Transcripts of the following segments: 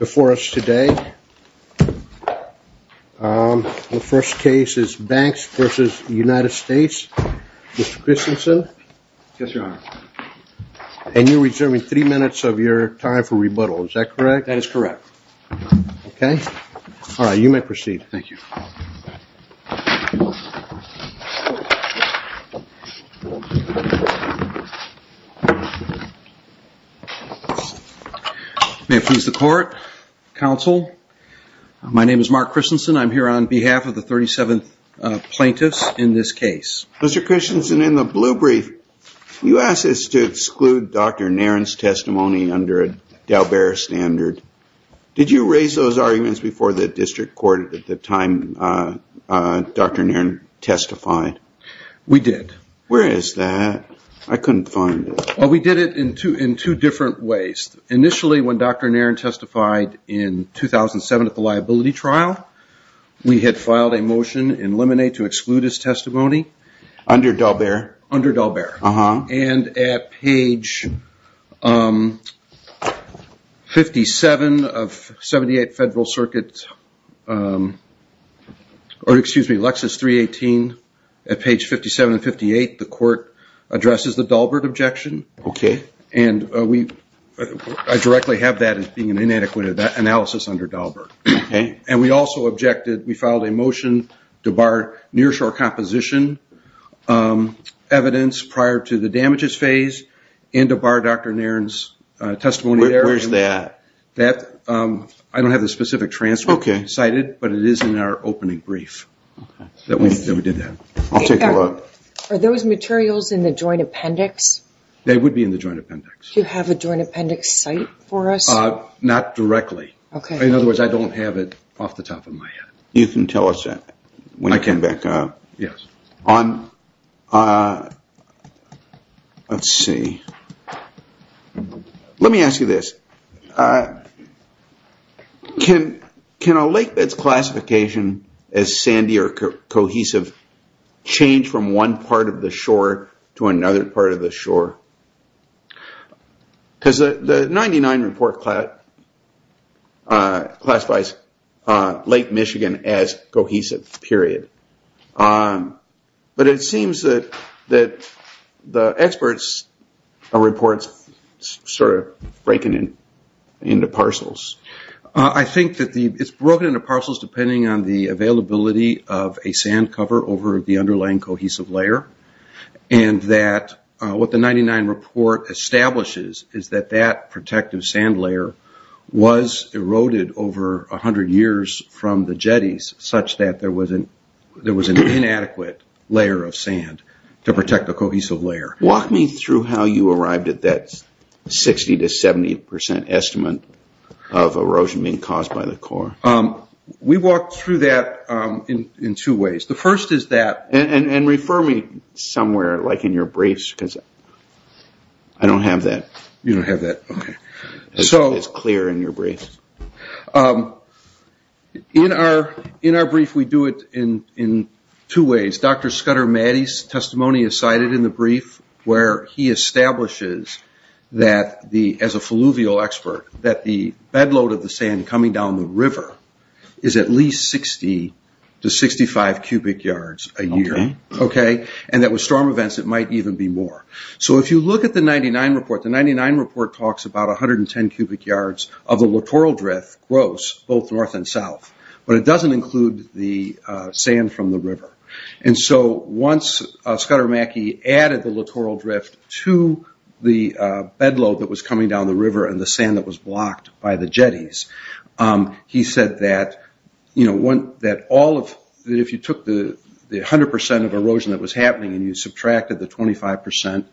Before us today, the first case is Banks v. United States, Mr. Christensen. Yes, Your Honor. And you're reserving three minutes of your time for rebuttal, is that correct? That is correct. Okay. All right, you may proceed. Thank you. May it please the Court, Counsel, my name is Mark Christensen. I'm here on behalf of the 37th plaintiff in this case. Mr. Christensen, in the blue brief, you asked us to exclude Dr. Nairn's testimony under a Dalbert standard. Did you raise those arguments before the district court at the time Dr. Nairn testified? We did. Where is that? I couldn't find it. We did it in two different ways. Initially, when Dr. Nairn testified in 2007 at the liability trial, we had filed a motion in Lemonade to exclude his testimony. Under Dalbert? Under Dalbert. Uh-huh. And at page 57 of 78 Federal Circuit, or excuse me, Lexis 318, at page 57 and 58, the Court addresses the Dalbert objection. Okay. And I directly have that as being an inadequate analysis under Dalbert. Okay. And we also objected, we filed a motion to bar nearshore composition evidence prior to the damages phase and to bar Dr. Nairn's testimony. Where is that? That, I don't have the specific transcript cited, but it is in our opening brief that we did that. I'll take a look. Are those materials in the joint appendix? They would be in the joint appendix. Do you have a joint appendix cite for us? Not directly. Okay. In other words, I don't have it off the top of my head. You can tell us that when I come back up. Yes. Let's see. Let me ask you this. Can a lakebed's classification as sandy or cohesive change from one part of the shore to another part of the shore? Because the 99 report classifies Lake Michigan as cohesive, period. But it seems that the experts' reports are sort of breaking into parcels. I think that it's broken into parcels depending on the availability of a sand cover over the underlying cohesive layer. What the 99 report establishes is that that protective sand layer was eroded over 100 years from the jetties, such that there was an inadequate layer of sand to protect the cohesive layer. Walk me through how you arrived at that 60% to 70% estimate of erosion being caused by the core. We walked through that in two ways. The first is that, and refer me somewhere, like in your briefs, because I don't have that. You don't have that? Okay. It's clear in your brief. In our brief, we do it in two ways. Dr. Scudder Maddy's testimony is cited in the brief where he establishes that, as a falluvial expert, that the bed load of the sand coming down the river is at least 60 to 65 cubic yards a year. And that with storm events, it might even be more. So if you look at the 99 report, the 99 report talks about 110 cubic yards of the littoral drift, gross, both north and south. But it doesn't include the sand from the river. And so once Scudder Maddy added the littoral drift to the bed load that was coming down the river and the sand that was blocked by the jetties, he said that if you took the 100% of erosion that was happening and you subtracted the 25%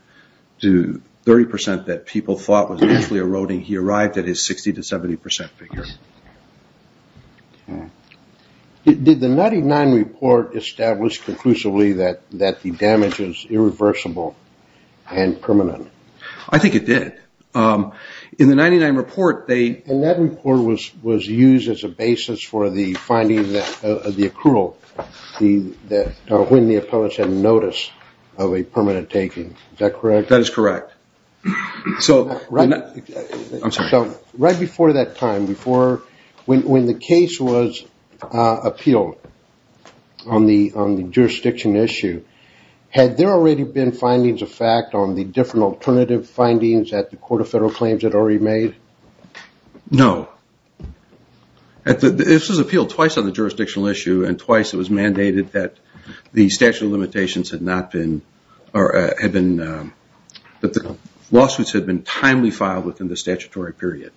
to 30% that people thought was actually eroding, he arrived at his 60% to 70% figure. Okay. Did the 99 report establish conclusively that the damage is irreversible and permanent? I think it did. In the 99 report, they... And that report was used as a basis for the finding of the accrual, when the appellants had notice of a permanent taking. Is that correct? That is correct. I'm sorry. Right before that time, when the case was appealed on the jurisdiction issue, had there already been findings of fact on the different alternative findings that the Court of Federal Claims had already made? No. This was appealed twice on the jurisdictional issue and twice it was mandated that the statute of limitations had not been... that the lawsuits had been timely filed within the statutory period.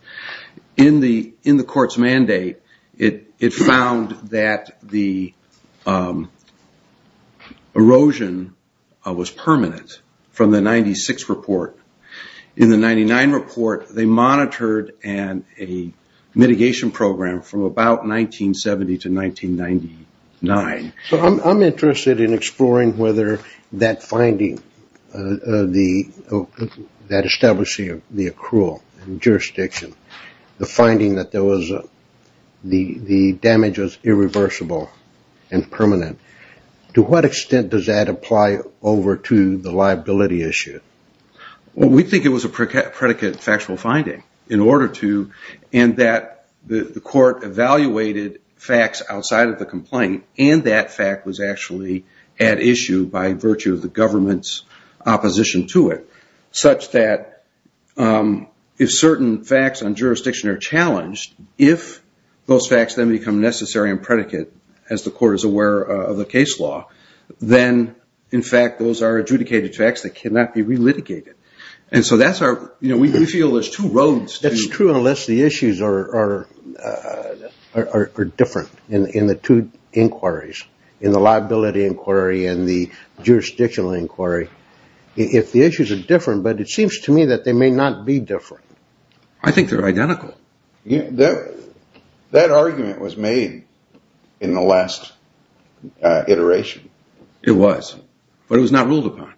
In the court's mandate, it found that the erosion was permanent from the 96 report. In the 99 report, they monitored a mitigation program from about 1970 to 1999. I'm interested in exploring whether that finding, that establishing of the accrual in jurisdiction, the finding that the damage was irreversible and permanent, to what extent does that apply over to the liability issue? We think it was a predicate factual finding. And that the court evaluated facts outside of the complaint, and that fact was actually at issue by virtue of the government's opposition to it, such that if certain facts on jurisdiction are challenged, if those facts then become necessary and predicate, as the court is aware of the case law, then, in fact, those are adjudicated facts that cannot be relitigated. And so that's our... we feel there's two roads to... That's true unless the issues are different in the two inquiries, in the liability inquiry and the jurisdictional inquiry. If the issues are different, but it seems to me that they may not be different. I think they're identical. That argument was made in the last iteration. It was, but it was not ruled upon.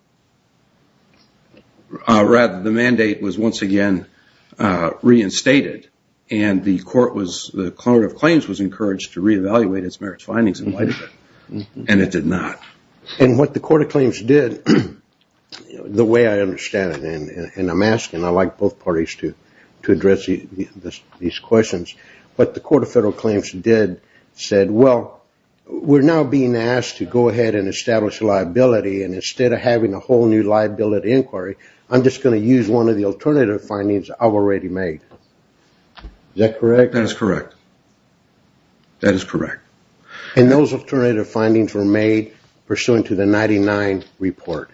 Rather, the mandate was once again reinstated, and the Court of Claims was encouraged to reevaluate its merits findings in light of it, and it did not. And what the Court of Claims did, the way I understand it, and I'm asking, I'd like both parties to address these questions, what the Court of Federal Claims did said, well, we're now being asked to go ahead and establish liability, and instead of having a whole new liability inquiry, I'm just going to use one of the alternative findings I've already made. Is that correct? That is correct. That is correct. And those alternative findings were made pursuant to the 99 report.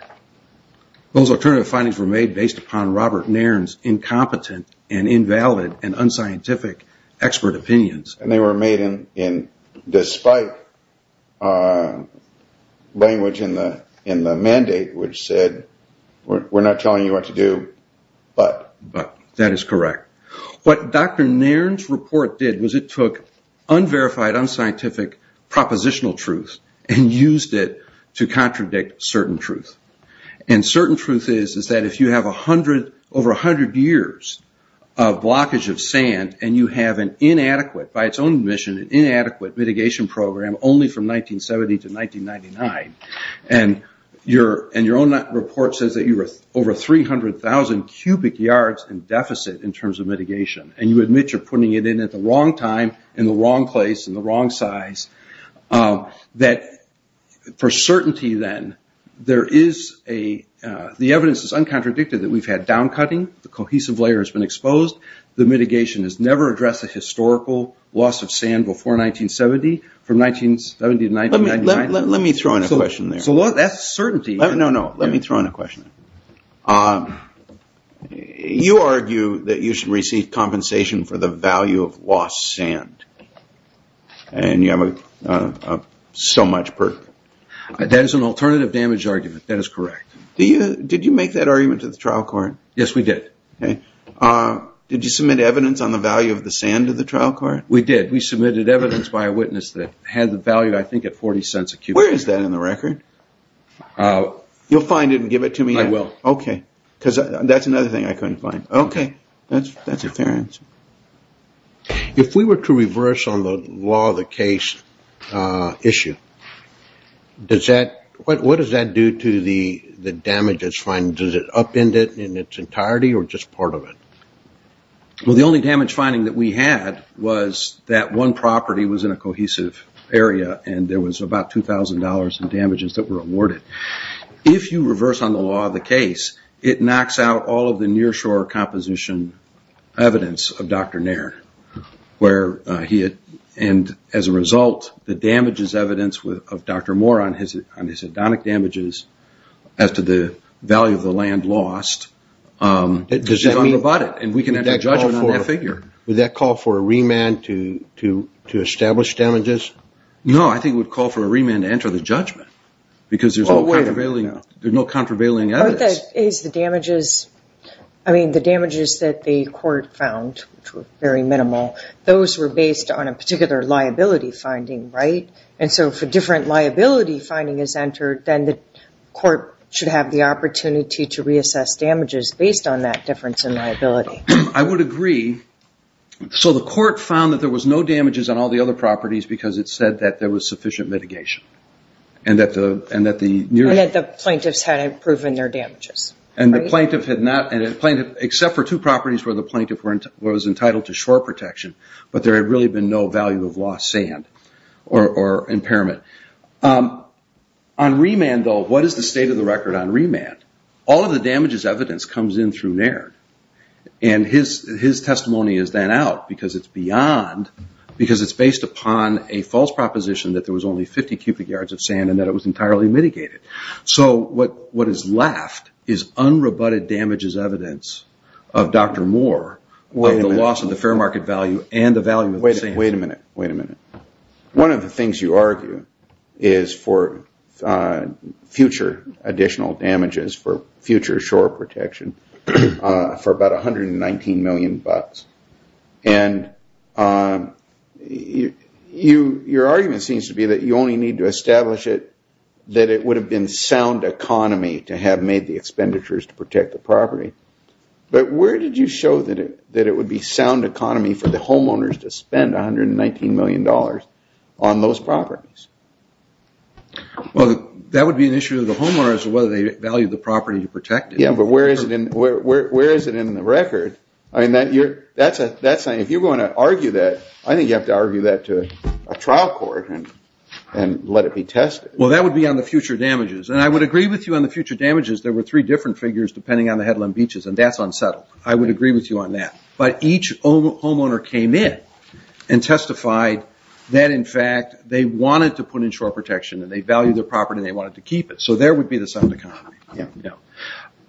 Those alternative findings were made based upon Robert Nairn's incompetent and invalid and unscientific expert opinions. And they were made in despite language in the mandate which said, we're not telling you what to do, but. But. That is correct. What Dr. Nairn's report did was it took unverified, unscientific, propositional truth and used it to contradict certain truth. And certain truth is that if you have over 100 years of blockage of sand and you have an inadequate, by its own admission, an inadequate mitigation program only from 1970 to 1999, and your own report says that you have over 300,000 cubic yards in deficit in terms of mitigation, and you admit you're putting it in at the wrong time, in the wrong place, in the wrong size, that for certainty then, the evidence is uncontradicted that we've had down cutting, the cohesive layer has been exposed, the mitigation has never addressed the historical loss of sand before 1970, from 1970 to 1999. Let me throw in a question there. So that's certainty. No, no, let me throw in a question. You argue that you should receive compensation for the value of lost sand. And you have so much. That is an alternative damage argument. That is correct. Did you make that argument to the trial court? Yes, we did. Did you submit evidence on the value of the sand to the trial court? We did. We submitted evidence by a witness that had the value, I think, at 40 cents a cubic yard. Where is that in the record? You'll find it and give it to me? I will. Okay. Because that's another thing I couldn't find. Okay. That's a fair answer. If we were to reverse on the law of the case issue, what does that do to the damage that's fined? Does it upend it in its entirety or just part of it? Well, the only damage finding that we had was that one property was in a cohesive area and there was about $2,000 in damages that were awarded. If you reverse on the law of the case, it knocks out all of the nearshore composition evidence of Dr. Nairn. And as a result, the damage is evidence of Dr. Moore on his hedonic damages as to the value of the land lost. It's unroboted and we can enter judgment on that figure. Would that call for a remand to establish damages? No, I think it would call for a remand to enter the judgment because there's no contravailing evidence. The damages that the court found, which were very minimal, those were based on a particular liability finding, right? And so if a different liability finding is entered, then the court should have the opportunity to reassess damages based on that difference in liability. I would agree. So the court found that there was no damages on all the other properties because it said that there was sufficient mitigation. And that the plaintiffs hadn't proven their damages. And the plaintiff had not, except for two properties where the plaintiff was entitled to shore protection, but there had really been no value of lost sand or impairment. On remand, though, what is the state of the record on remand? All of the damages evidence comes in through Nairn. And his testimony is then out because it's beyond, because it's based upon a false proposition that there was only 50 cubic yards of sand and that it was entirely mitigated. So what is left is unroboted damages evidence of Dr. Moore, of the loss of the fair market value and the value of the sand. Wait a minute, wait a minute. One of the things you argue is for future additional damages, for future shore protection, for about $119 million. And your argument seems to be that you only need to establish it, that it would have been sound economy to have made the expenditures to protect the property. But where did you show that it would be sound economy for the homeowners to spend $119 million on those properties? Well, that would be an issue of the homeowners, whether they value the property to protect it. Yeah, but where is it in the record? I mean, that's a, if you're going to argue that, I think you have to argue that to a trial court and let it be tested. Well, that would be on the future damages. And I would agree with you on the future damages. There were three different figures depending on the headland beaches, and that's unsettled. I would agree with you on that. But each homeowner came in and testified that, in fact, they wanted to put in shore protection and they valued their property and they wanted to keep it. So there would be the sound economy.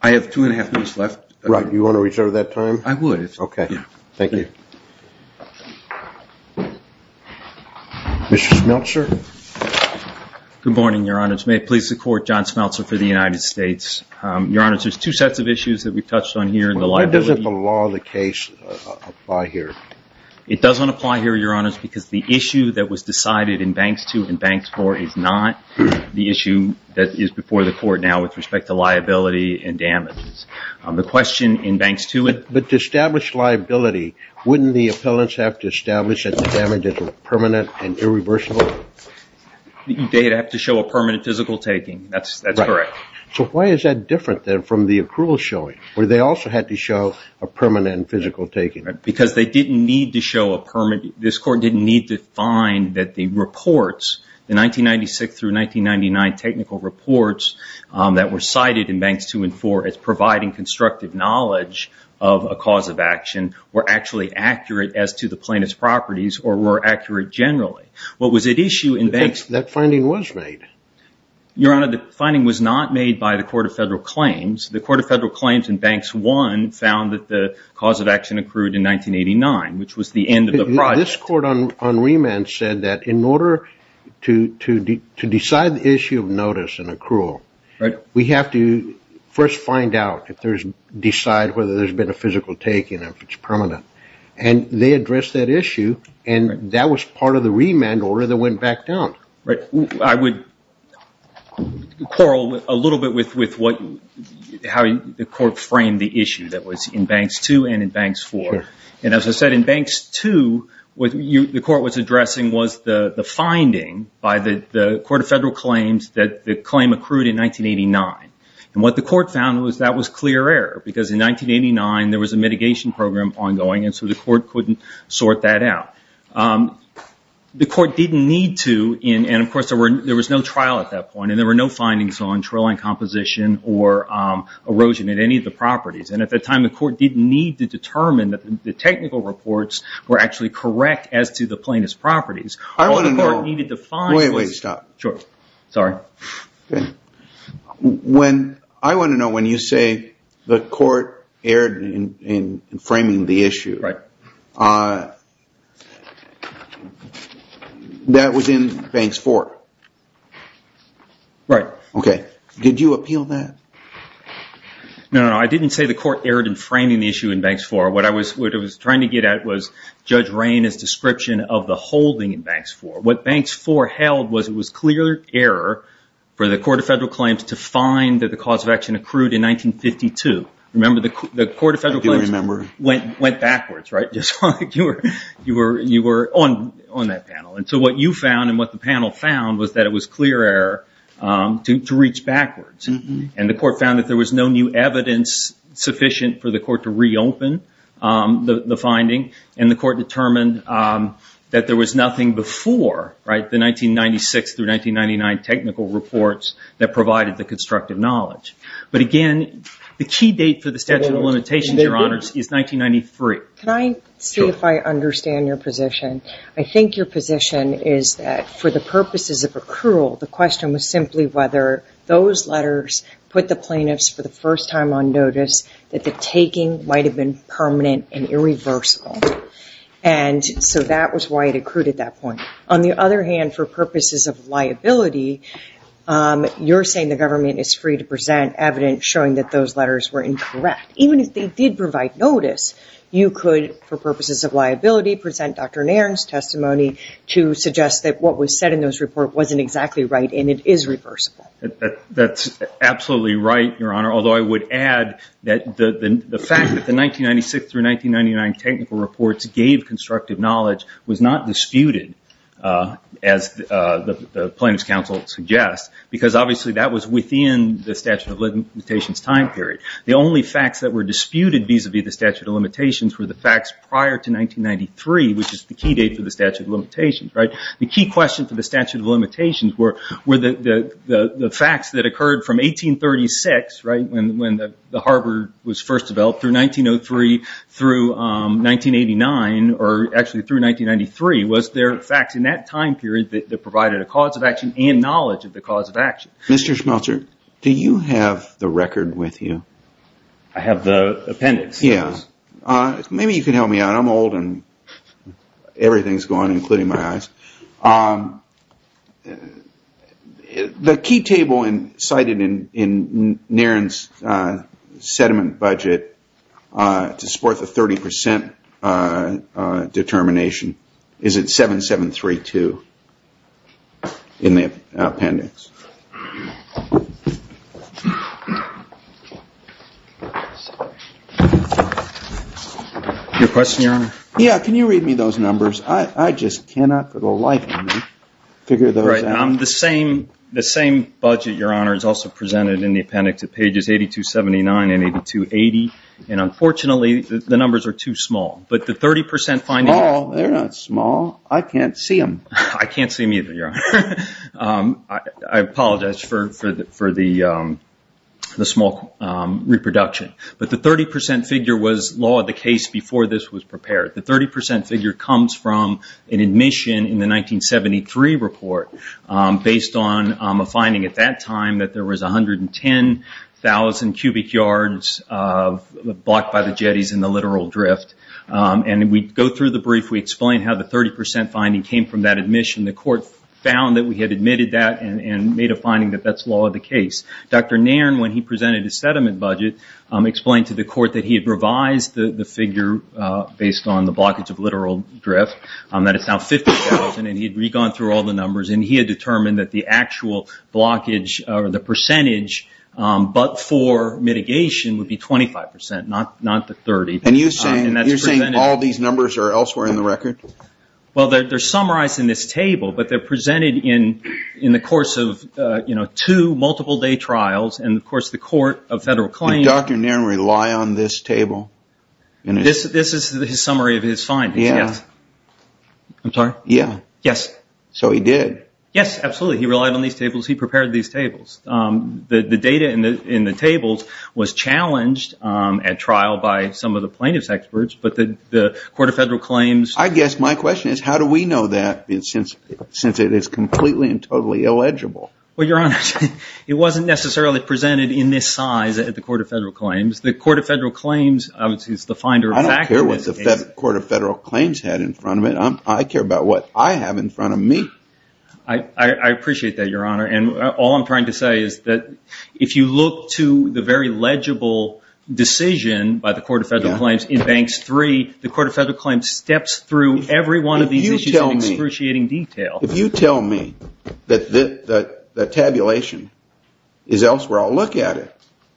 I have two and a half minutes left. Right. Do you want to reach out at that time? I would. Okay. Thank you. Mr. Schmeltzer. Good morning, Your Honor. May it please the Court, John Schmeltzer for the United States. Your Honor, there's two sets of issues that we've touched on here. Why doesn't the law of the case apply here? It doesn't apply here, Your Honor, because the issue that was decided in Banks 2 and Banks 4 is not the issue that is before the Court now with respect to liability and damages. The question in Banks 2. But to establish liability, wouldn't the appellants have to establish that the damages were permanent and irreversible? They'd have to show a permanent physical taking. That's correct. Right. So why is that different then from the accrual showing where they also had to show a permanent physical taking? Because they didn't need to show a permanent. This Court didn't need to find that the reports, the 1996 through 1999 technical reports that were cited in Banks 2 and 4 as providing constructive knowledge of a cause of action were actually accurate as to the plaintiff's properties or were accurate generally. That finding was made. Your Honor, the finding was not made by the Court of Federal Claims. The Court of Federal Claims in Banks 1 found that the cause of action accrued in 1989, which was the end of the project. This Court on remand said that in order to decide the issue of notice and accrual, we have to first find out, decide whether there's been a physical taking and if it's permanent. And they addressed that issue and that was part of the remand order that went back down. Right. I would quarrel a little bit with how the Court framed the issue that was in Banks 2 and in Banks 4. Sure. And as I said, in Banks 2, what the Court was addressing was the finding by the Court of Federal Claims that the claim accrued in 1989. And what the Court found was that was clear error because in 1989 there was a mitigation program ongoing and so the Court couldn't sort that out. The Court didn't need to, and of course there was no trial at that point, and there were no findings on trail and composition or erosion at any of the properties. And at that time the Court didn't need to determine that the technical reports were actually correct as to the plaintiff's properties. I want to know... Wait, wait, stop. Sure. Sorry. Okay. I want to know when you say the Court erred in framing the issue. Right. That was in Banks 4. Right. Okay. Did you appeal that? No, no, no. I didn't say the Court erred in framing the issue in Banks 4. What I was trying to get at was Judge Rayne's description of the holding in Banks 4. What Banks 4 held was it was clear error for the Court of Federal Claims to find that the cause of action accrued in 1952. Remember, the Court of Federal Claims went backwards, right? You were on that panel. And so what you found and what the panel found was that it was clear error to reach backwards. And the Court found that there was no new evidence sufficient for the Court to reopen the finding, and the Court determined that there was nothing before the 1996 through 1999 technical reports that provided the constructive knowledge. But again, the key date for the Statute of Limitations, Your Honors, is 1993. Can I see if I understand your position? I think your position is that for the purposes of accrual, the question was simply whether those letters put the plaintiffs for the first time on notice that the taking might have been permanent and irreversible. And so that was why it accrued at that point. On the other hand, for purposes of liability, you're saying the government is free to present evidence showing that those letters were incorrect. Even if they did provide notice, you could, for purposes of liability, present Dr. Nairn's testimony to suggest that what was said in those reports wasn't exactly right and it is reversible. That's absolutely right, Your Honor, although I would add that the fact that the 1996 through 1999 technical reports gave constructive knowledge was not disputed, as the plaintiffs' counsel suggests, because obviously that was within the Statute of Limitations' time period. The only facts that were disputed vis-a-vis the Statute of Limitations were the facts prior to 1993, which is the key date for the Statute of Limitations. The key questions for the Statute of Limitations were the facts that occurred from 1836, when the harbor was first developed, through 1903, through 1989, or actually through 1993, was there facts in that time period that provided a cause of action and knowledge of the cause of action. Mr. Schmeltzer, do you have the record with you? I have the appendix. Maybe you can help me out. I'm old and everything's gone, including my eyes. The key table cited in Niren's sediment budget to support the 30% determination is at 7732 in the appendix. Your question, Your Honor? Yeah, can you read me those numbers? I just cannot for the life of me figure those out. The same budget, Your Honor, is also presented in the appendix at pages 8279 and 8280. And unfortunately, the numbers are too small. Small? They're not small. I can't see them. I can't see them either, Your Honor. I apologize for the small reproduction. But the 30% figure was law of the case before this was prepared. The 30% figure comes from an admission in the 1973 report based on a finding at that time that there was 110,000 cubic yards blocked by the jetties in the littoral drift. And we go through the brief. We explain how the 30% finding came from that admission. The court found that we had admitted that and made a finding that that's law of the case. Dr. Niren, when he presented his sediment budget, explained to the court that he had revised the figure based on the blockage of littoral drift, that it's now 50,000, and he'd re-gone through all the numbers, and he had determined that the actual percentage but for mitigation would be 25%, not the 30%. And you're saying all these numbers are elsewhere in the record? Well, they're summarized in this table, but they're presented in the course of two multiple-day trials. And, of course, the Court of Federal Claims... This is a summary of his findings, yes. I'm sorry? Yeah. Yes. So he did? Yes, absolutely. He relied on these tables. He prepared these tables. The data in the tables was challenged at trial by some of the plaintiff's experts, but the Court of Federal Claims... I guess my question is, how do we know that since it is completely and totally illegible? Well, Your Honor, it wasn't necessarily presented in this size at the Court of Federal Claims. The Court of Federal Claims is the finder of fact. I don't care what the Court of Federal Claims had in front of it. I care about what I have in front of me. I appreciate that, Your Honor. And all I'm trying to say is that if you look to the very legible decision by the Court of Federal Claims in Banks 3, the Court of Federal Claims steps through every one of these issues in excruciating detail. If you tell me that the tabulation is elsewhere, I'll look at it.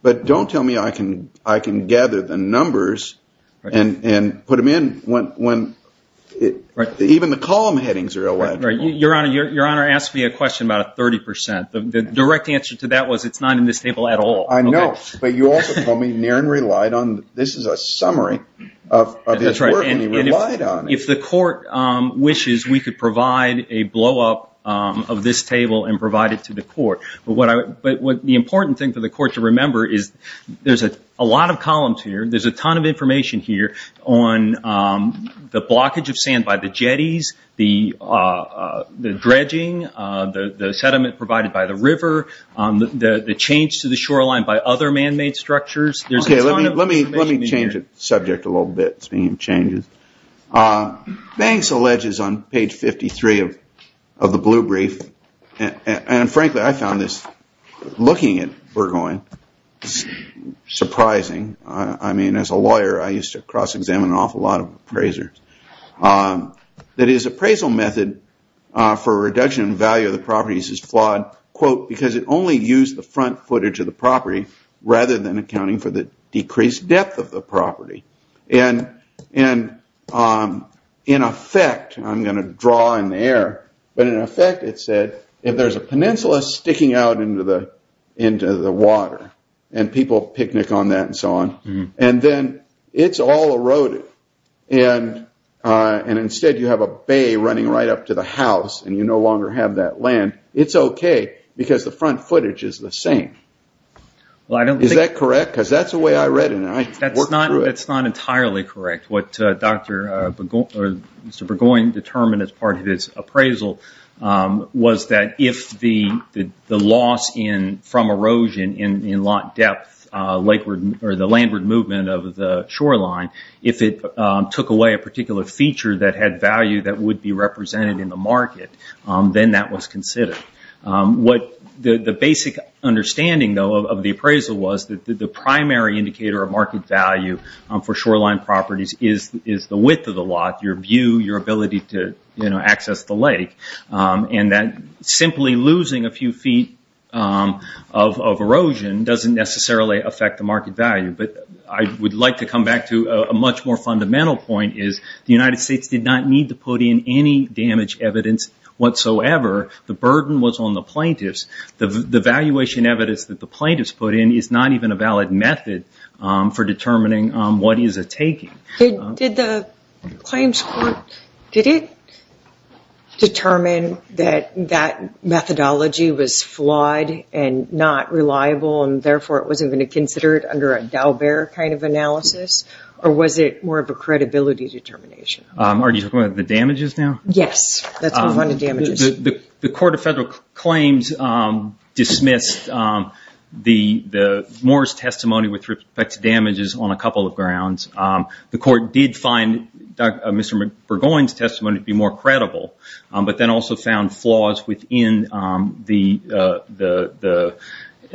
But don't tell me I can gather the numbers and put them in when even the column headings are illegible. Your Honor asked me a question about a 30%. The direct answer to that was it's not in this table at all. I know, but you also told me Niren relied on... This is a summary of his work and he relied on it. If the Court wishes, we could provide a blow-up of this table and provide it to the Court. But the important thing for the Court to remember is there's a lot of columns here. There's a ton of information here on the blockage of sand by the jetties, the dredging, the sediment provided by the river, the change to the shoreline by other man-made structures. Let me change the subject a little bit, speaking of changes. Banks alleges on page 53 of the blue brief, and frankly, I found this looking at Burgoyne surprising. I mean, as a lawyer, I used to cross-examine an awful lot of appraisers. That his appraisal method for reduction in value of the properties is flawed because it only used the front footage of the property rather than accounting for the decreased depth of the property. And in effect, I'm going to draw in the air, but in effect it said if there's a peninsula sticking out into the water and people picnic on that and so on, and then it's all eroded and instead you have a bay running right up to the house and you no longer have that land, it's okay because the front footage is the same. Is that correct? Because that's the way I read it. That's not entirely correct. What Mr. Burgoyne determined as part of his appraisal was that if the loss from erosion in lot depth, the landward movement of the shoreline, if it took away a particular feature that had value that would be represented in the market, then that was considered. The basic understanding, though, of the appraisal was that the primary indicator of market value for shoreline properties is the width of the lot, your view, your ability to access the lake, and that simply losing a few feet of erosion doesn't necessarily affect the market value. But I would like to come back to a much more fundamental point, is the United States did not need to put in any damage evidence whatsoever. The burden was on the plaintiffs. The valuation evidence that the plaintiffs put in is not even a valid method for determining what is a taking. Did the claims court, did it determine that that methodology was flawed and not reliable and therefore it wasn't going to consider it under a Daubert kind of analysis or was it more of a credibility determination? Are you talking about the damages now? Yes. The Court of Federal Claims dismissed Moore's testimony with respect to damages on a couple of grounds. The Court did find Mr. Burgoyne's testimony to be more credible, but then also found flaws within the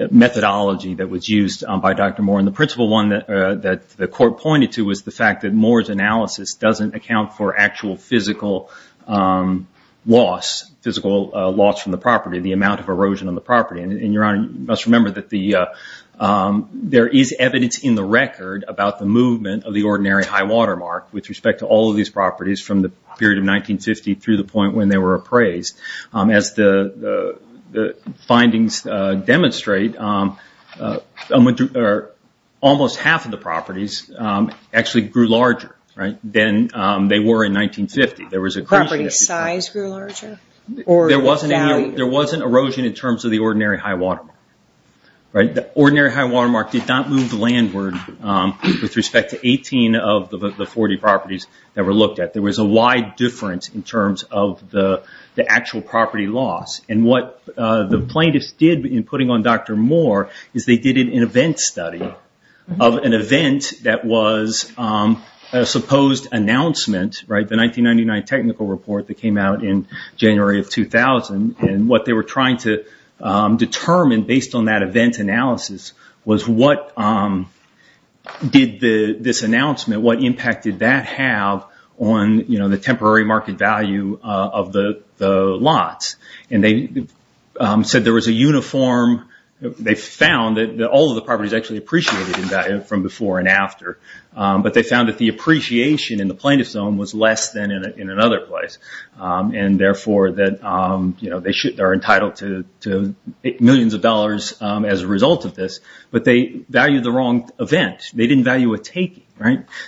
methodology that was used by Dr. Moore, and the principal one that the Court pointed to was the fact that Moore's analysis doesn't account for actual physical loss, physical loss from the property, the amount of erosion on the property. Your Honor, you must remember that there is evidence in the record about the movement of the ordinary high watermark with respect to all of these properties from the period of 1950 through the point when they were appraised. As the findings demonstrate, almost half of the properties actually grew larger than they were in 1950. Property size grew larger? There wasn't erosion in terms of the ordinary high watermark. The ordinary high watermark did not move landward with respect to 18 of the 40 properties that were looked at. There was a wide difference in terms of the actual property loss. What the plaintiffs did in putting on Dr. Moore is they did an event study of an event that was a supposed announcement, the 1999 technical report that came out in January of 2000. What they were trying to determine based on that event analysis was what did this announcement, what impact did that have on the temporary market value of the lots? They found that all of the properties actually appreciated in value from before and after, but they found that the appreciation in the plaintiff's zone was less than in another place. Therefore, they're entitled to millions of dollars as a result of this, but they valued the wrong event. They didn't value a taking.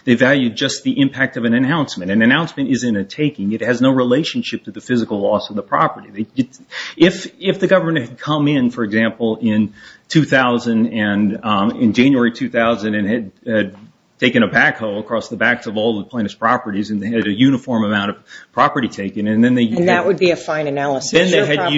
They valued just the impact of an announcement. An announcement isn't a taking. It has no relationship to the physical loss of the property. If the government had come in, for example, in January 2000 and had taken a backhoe across the backs of all the plaintiff's properties and they had a uniform amount of property taken and then they used it. That would be a fine analysis. Can I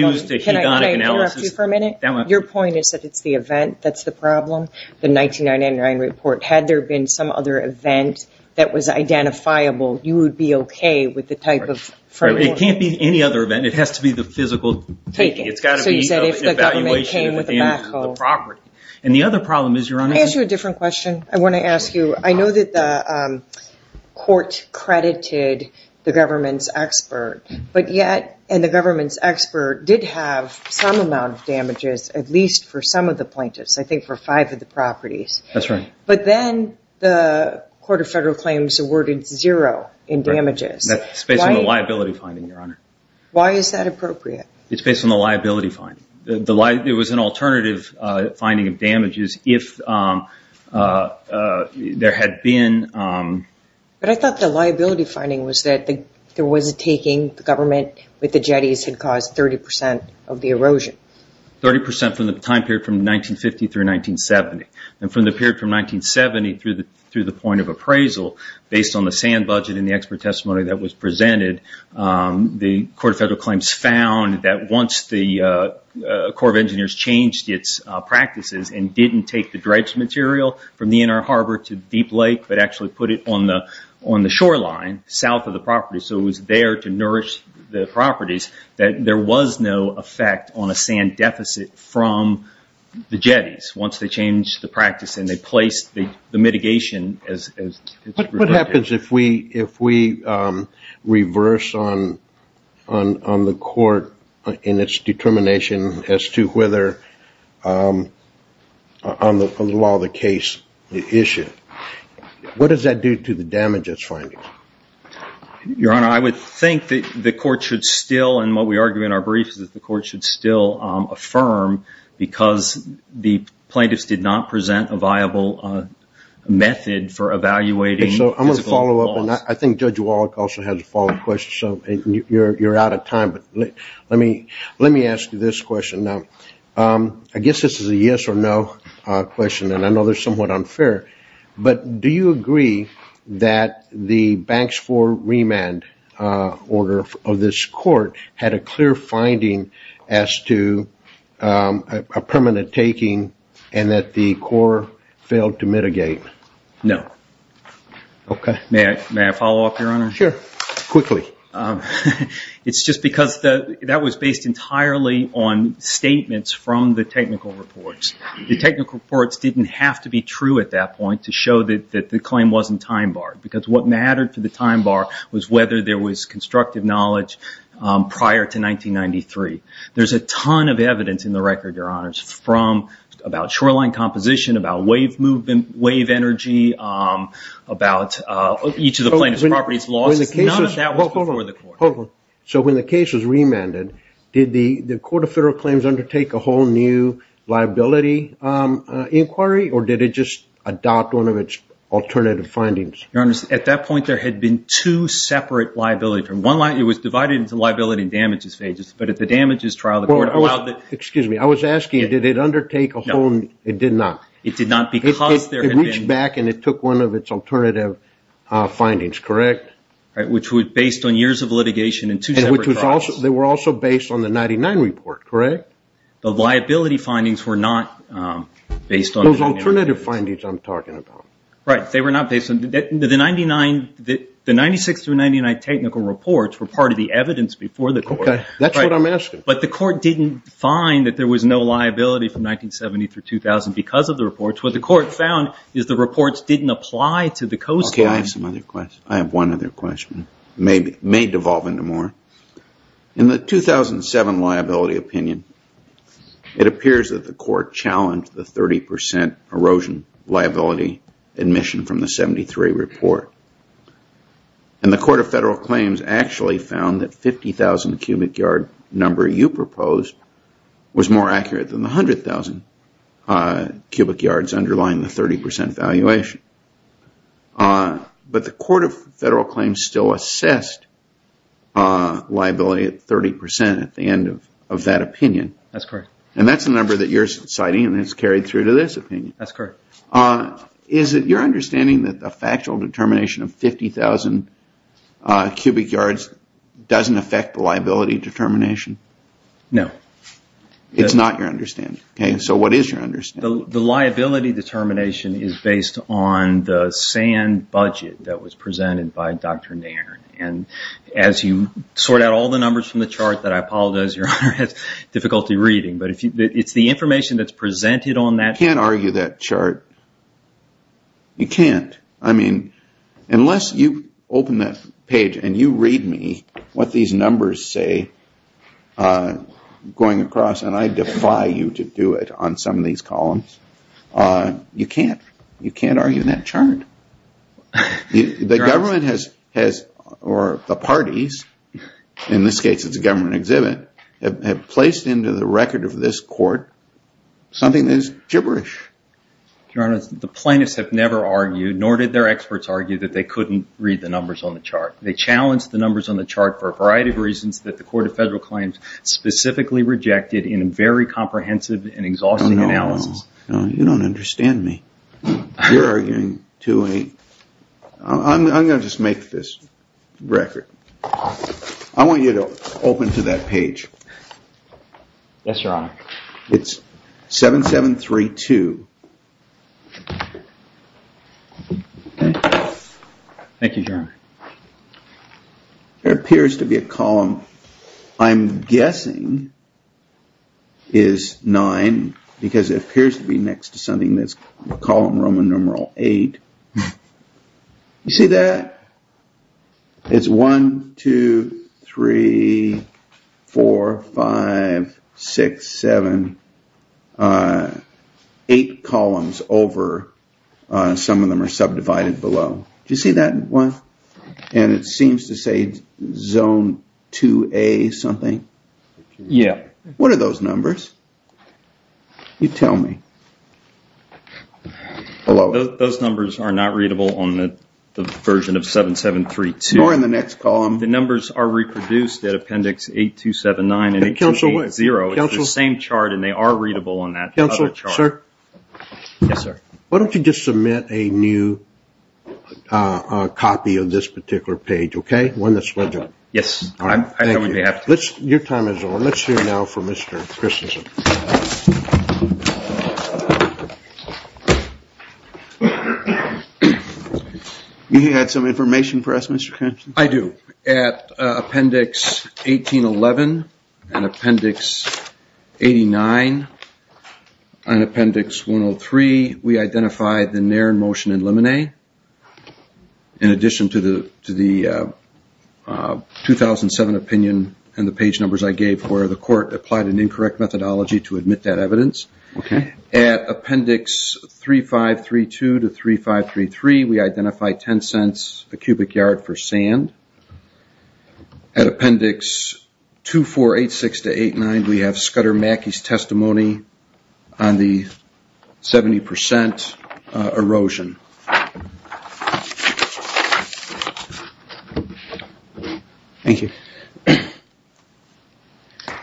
interrupt you for a minute? Your point is that it's the event that's the problem, the 1999 report. Had there been some other event that was identifiable, you would be okay with the type of framework? It can't be any other event. It has to be the physical taking. So you said if the government came with a backhoe. And the other problem is, Your Honor. Can I ask you a different question? I want to ask you. I know that the court credited the government's expert, and the government's expert did have some amount of damages, at least for some of the plaintiffs, I think for five of the properties. That's right. But then the Court of Federal Claims awarded zero in damages. That's based on the liability finding, Your Honor. Why is that appropriate? It's based on the liability finding. It was an alternative finding of damages if there had been. But I thought the liability finding was that there was a taking, the government with the jetties had caused 30% of the erosion. 30% from the time period from 1950 through 1970. And from the period from 1970 through the point of appraisal, based on the sand budget and the expert testimony that was presented, the Court of Federal Claims found that once the Corps of Engineers changed its practices and didn't take the dredged material from the Inner Harbor to Deep Lake, but actually put it on the shoreline, south of the property, so it was there to nourish the properties, that there was no effect on a sand deficit from the jetties. Once they changed the practice and they placed the mitigation. What happens if we reverse on the court in its determination as to whether on the law of the case, the issue? What does that do to the damages finding? Your Honor, I would think that the court should still, and what we argue in our briefs, that the court should still affirm because the plaintiffs did not present a viable method for evaluating. I'm going to follow up. I think Judge Wallach also has a follow-up question. You're out of time. Let me ask you this question. I guess this is a yes or no question. I know it's somewhat unfair. Do you agree that the banks for remand order of this court had a clear finding as to a permanent taking and that the court failed to mitigate? No. Okay. May I follow up, Your Honor? Sure. Quickly. It's just because that was based entirely on statements from the technical reports. The technical reports didn't have to be true at that point to show that the claim wasn't time barred because what mattered for the time bar was whether there was constructive knowledge prior to 1993. There's a ton of evidence in the record, Your Honors, about shoreline composition, about wave energy, about each of the plaintiff's properties losses. None of that was before the court. Hold on. So when the case was remanded, did the Court of Federal Claims undertake a whole new liability inquiry, or did it just adopt one of its alternative findings? Your Honors, at that point there had been two separate liability terms. It was divided into liability and damages phases, but at the damages trial the court allowed the – Excuse me. I was asking did it undertake a whole – No. It did not. It did not because there had been – It reached back and it took one of its alternative findings, correct? Which was based on years of litigation and two separate files. They were also based on the 1999 report, correct? The liability findings were not based on – Those alternative findings I'm talking about. Right. They were not based on – The 96 through 99 technical reports were part of the evidence before the court. Okay. That's what I'm asking. But the court didn't find that there was no liability from 1970 through 2000 because of the reports. What the court found is the reports didn't apply to the coastline. Okay. I have some other questions. I have one other question. It may devolve into more. In the 2007 liability opinion, it appears that the court challenged the 30% erosion liability admission from the 73 report. And the Court of Federal Claims actually found that 50,000-cubic-yard number you proposed was more accurate than the 100,000-cubic-yards underlying the 30% valuation. But the Court of Federal Claims still assessed liability at 30% at the end of that opinion. That's correct. And that's the number that you're citing and it's carried through to this opinion. That's correct. Is it your understanding that the factual determination of 50,000-cubic-yards doesn't affect the liability determination? No. It's not your understanding. So what is your understanding? The liability determination is based on the sand budget that was presented by Dr. Nairn. As you sort out all the numbers from the chart that I apologize, Your Honor, it's difficulty reading. But it's the information that's presented on that chart. You can't argue that chart. You can't. I mean, unless you open that page and you read me what these numbers say going across, and I defy you to do it on some of these columns, you can't. You can't argue that chart. The government has, or the parties, in this case it's a government exhibit, have placed into the record of this court something that is gibberish. Your Honor, the plaintiffs have never argued, nor did their experts argue, that they couldn't read the numbers on the chart. They challenged the numbers on the chart for a variety of reasons that the Court of Federal Claims specifically rejected in a very comprehensive and exhausting analysis. No, you don't understand me. You're arguing too late. I'm going to just make this record. I want you to open to that page. Yes, Your Honor. It's 7732. Thank you, Your Honor. There appears to be a column. I'm guessing is nine because it appears to be next to something that's column Roman numeral eight. You see that? It's one, two, three, four, five, six, seven, eight columns over. Some of them are subdivided below. Do you see that one? It seems to say zone 2A something. Yes. What are those numbers? You tell me. Those numbers are not readable on the version of 7732. Nor in the next column. The numbers are reproduced at appendix 8279. Counsel, wait. It's the same chart and they are readable on that chart. Counsel, sir. Yes, sir. Why don't you just submit a new copy of this particular page, okay? One that's legible. Yes. I know we may have to. Your time is over. Let's hear now from Mr. Christensen. You had some information for us, Mr. Crenshaw? I do. At appendix 1811 and appendix 89 and appendix 103, we identified the Nairn motion in limine. In addition to the 2007 opinion and the page numbers I gave for the court applied an incorrect methodology to admit that evidence. At appendix 3532 to 3533, we identified 10 cents a cubic yard for sand. At appendix 2486 to 89, we have Scudder Mackey's testimony on the 70% erosion. Thank you.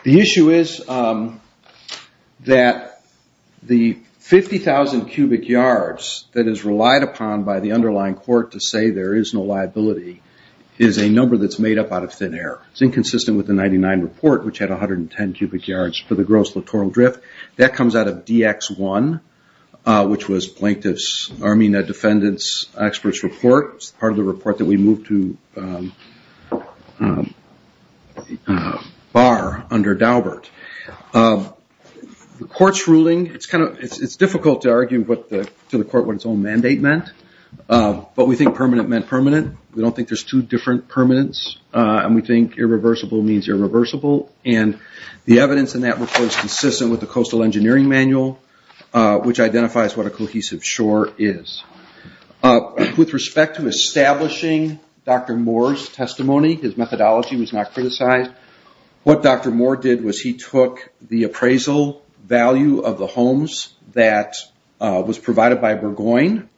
The issue is that the 50,000 cubic yards that is relied upon by the underlying court to say there is no liability is a number that's made up out of thin air. It's inconsistent with the 99 report, which had 110 cubic yards for the gross littoral drift. That comes out of DX1, which was Plaintiff's Armina Defendant's Experts Report, part of the report that we moved to BAR under Daubert. The court's ruling, it's difficult to argue to the court what its own mandate meant, but we think permanent meant permanent. We don't think there's two different permanents, and we think irreversible means irreversible. The evidence in that report is consistent with the Coastal Engineering Manual, which identifies what a cohesive shore is. With respect to establishing Dr. Moore's testimony, his methodology was not criticized. What Dr. Moore did was he took the appraisal value of the homes that was provided by Burgoyne,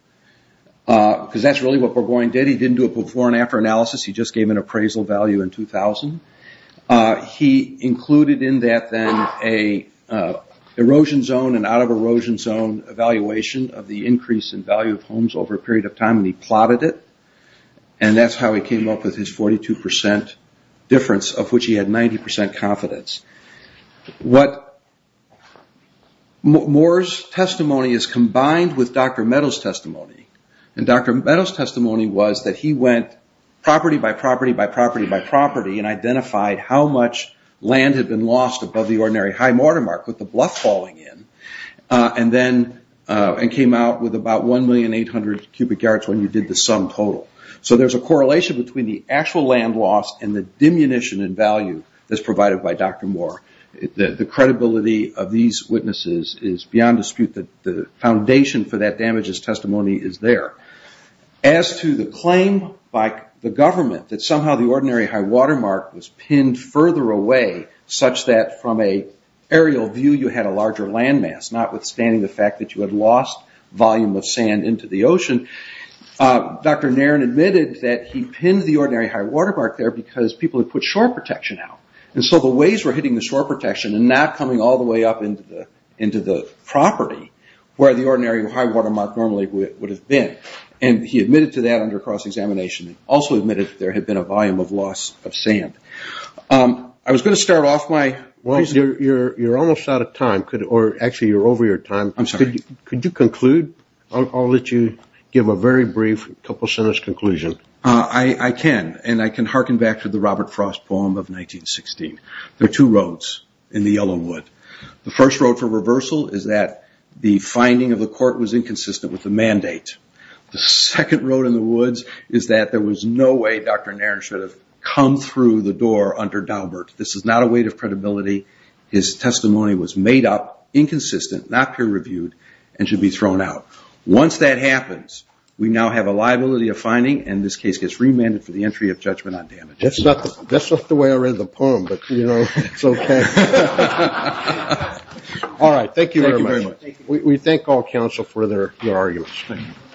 because that's really what Burgoyne did. He didn't do a before and after analysis. He just gave an appraisal value in 2000. He included in that then an erosion zone and out of erosion zone evaluation of the increase in value of homes over a period of time, and he plotted it. That's how he came up with his 42% difference, of which he had 90% confidence. Moore's testimony is combined with Dr. Meadows' testimony. Dr. Meadows' testimony was that he went property by property by property by identifying how much land had been lost above the Ordinary High Watermark, with the bluff falling in, and came out with about 1,800,000 cubic yards when you did the sum total. There's a correlation between the actual land loss and the diminution in value that's provided by Dr. Moore. The credibility of these witnesses is beyond dispute. The foundation for that damage as testimony is there. As to the claim by the government that somehow the Ordinary High Watermark was pinned further away such that from an aerial view you had a larger land mass, notwithstanding the fact that you had lost volume of sand into the ocean, Dr. Nairn admitted that he pinned the Ordinary High Watermark there because people had put shore protection out. The waves were hitting the shore protection and not coming all the way up into the property where the Ordinary High Watermark normally would have been. And he admitted to that under cross-examination. He also admitted that there had been a volume of loss of sand. I was going to start off my question. Well, you're almost out of time, or actually you're over your time. I'm sorry. Could you conclude? I'll let you give a very brief couple-sentence conclusion. I can, and I can hearken back to the Robert Frost poem of 1916. There are two roads in the Yellowwood. The first road for reversal is that the finding of the court was inconsistent with the mandate. The second road in the woods is that there was no way Dr. Nairn should have come through the door under Daubert. This is not a weight of credibility. His testimony was made up, inconsistent, not peer-reviewed, and should be thrown out. Once that happens, we now have a liability of finding, and this case gets remanded for the entry of judgment on damage. That's not the way I read the poem, but it's okay. All right. Thank you very much. We thank all counsel for their arguments. Thank you.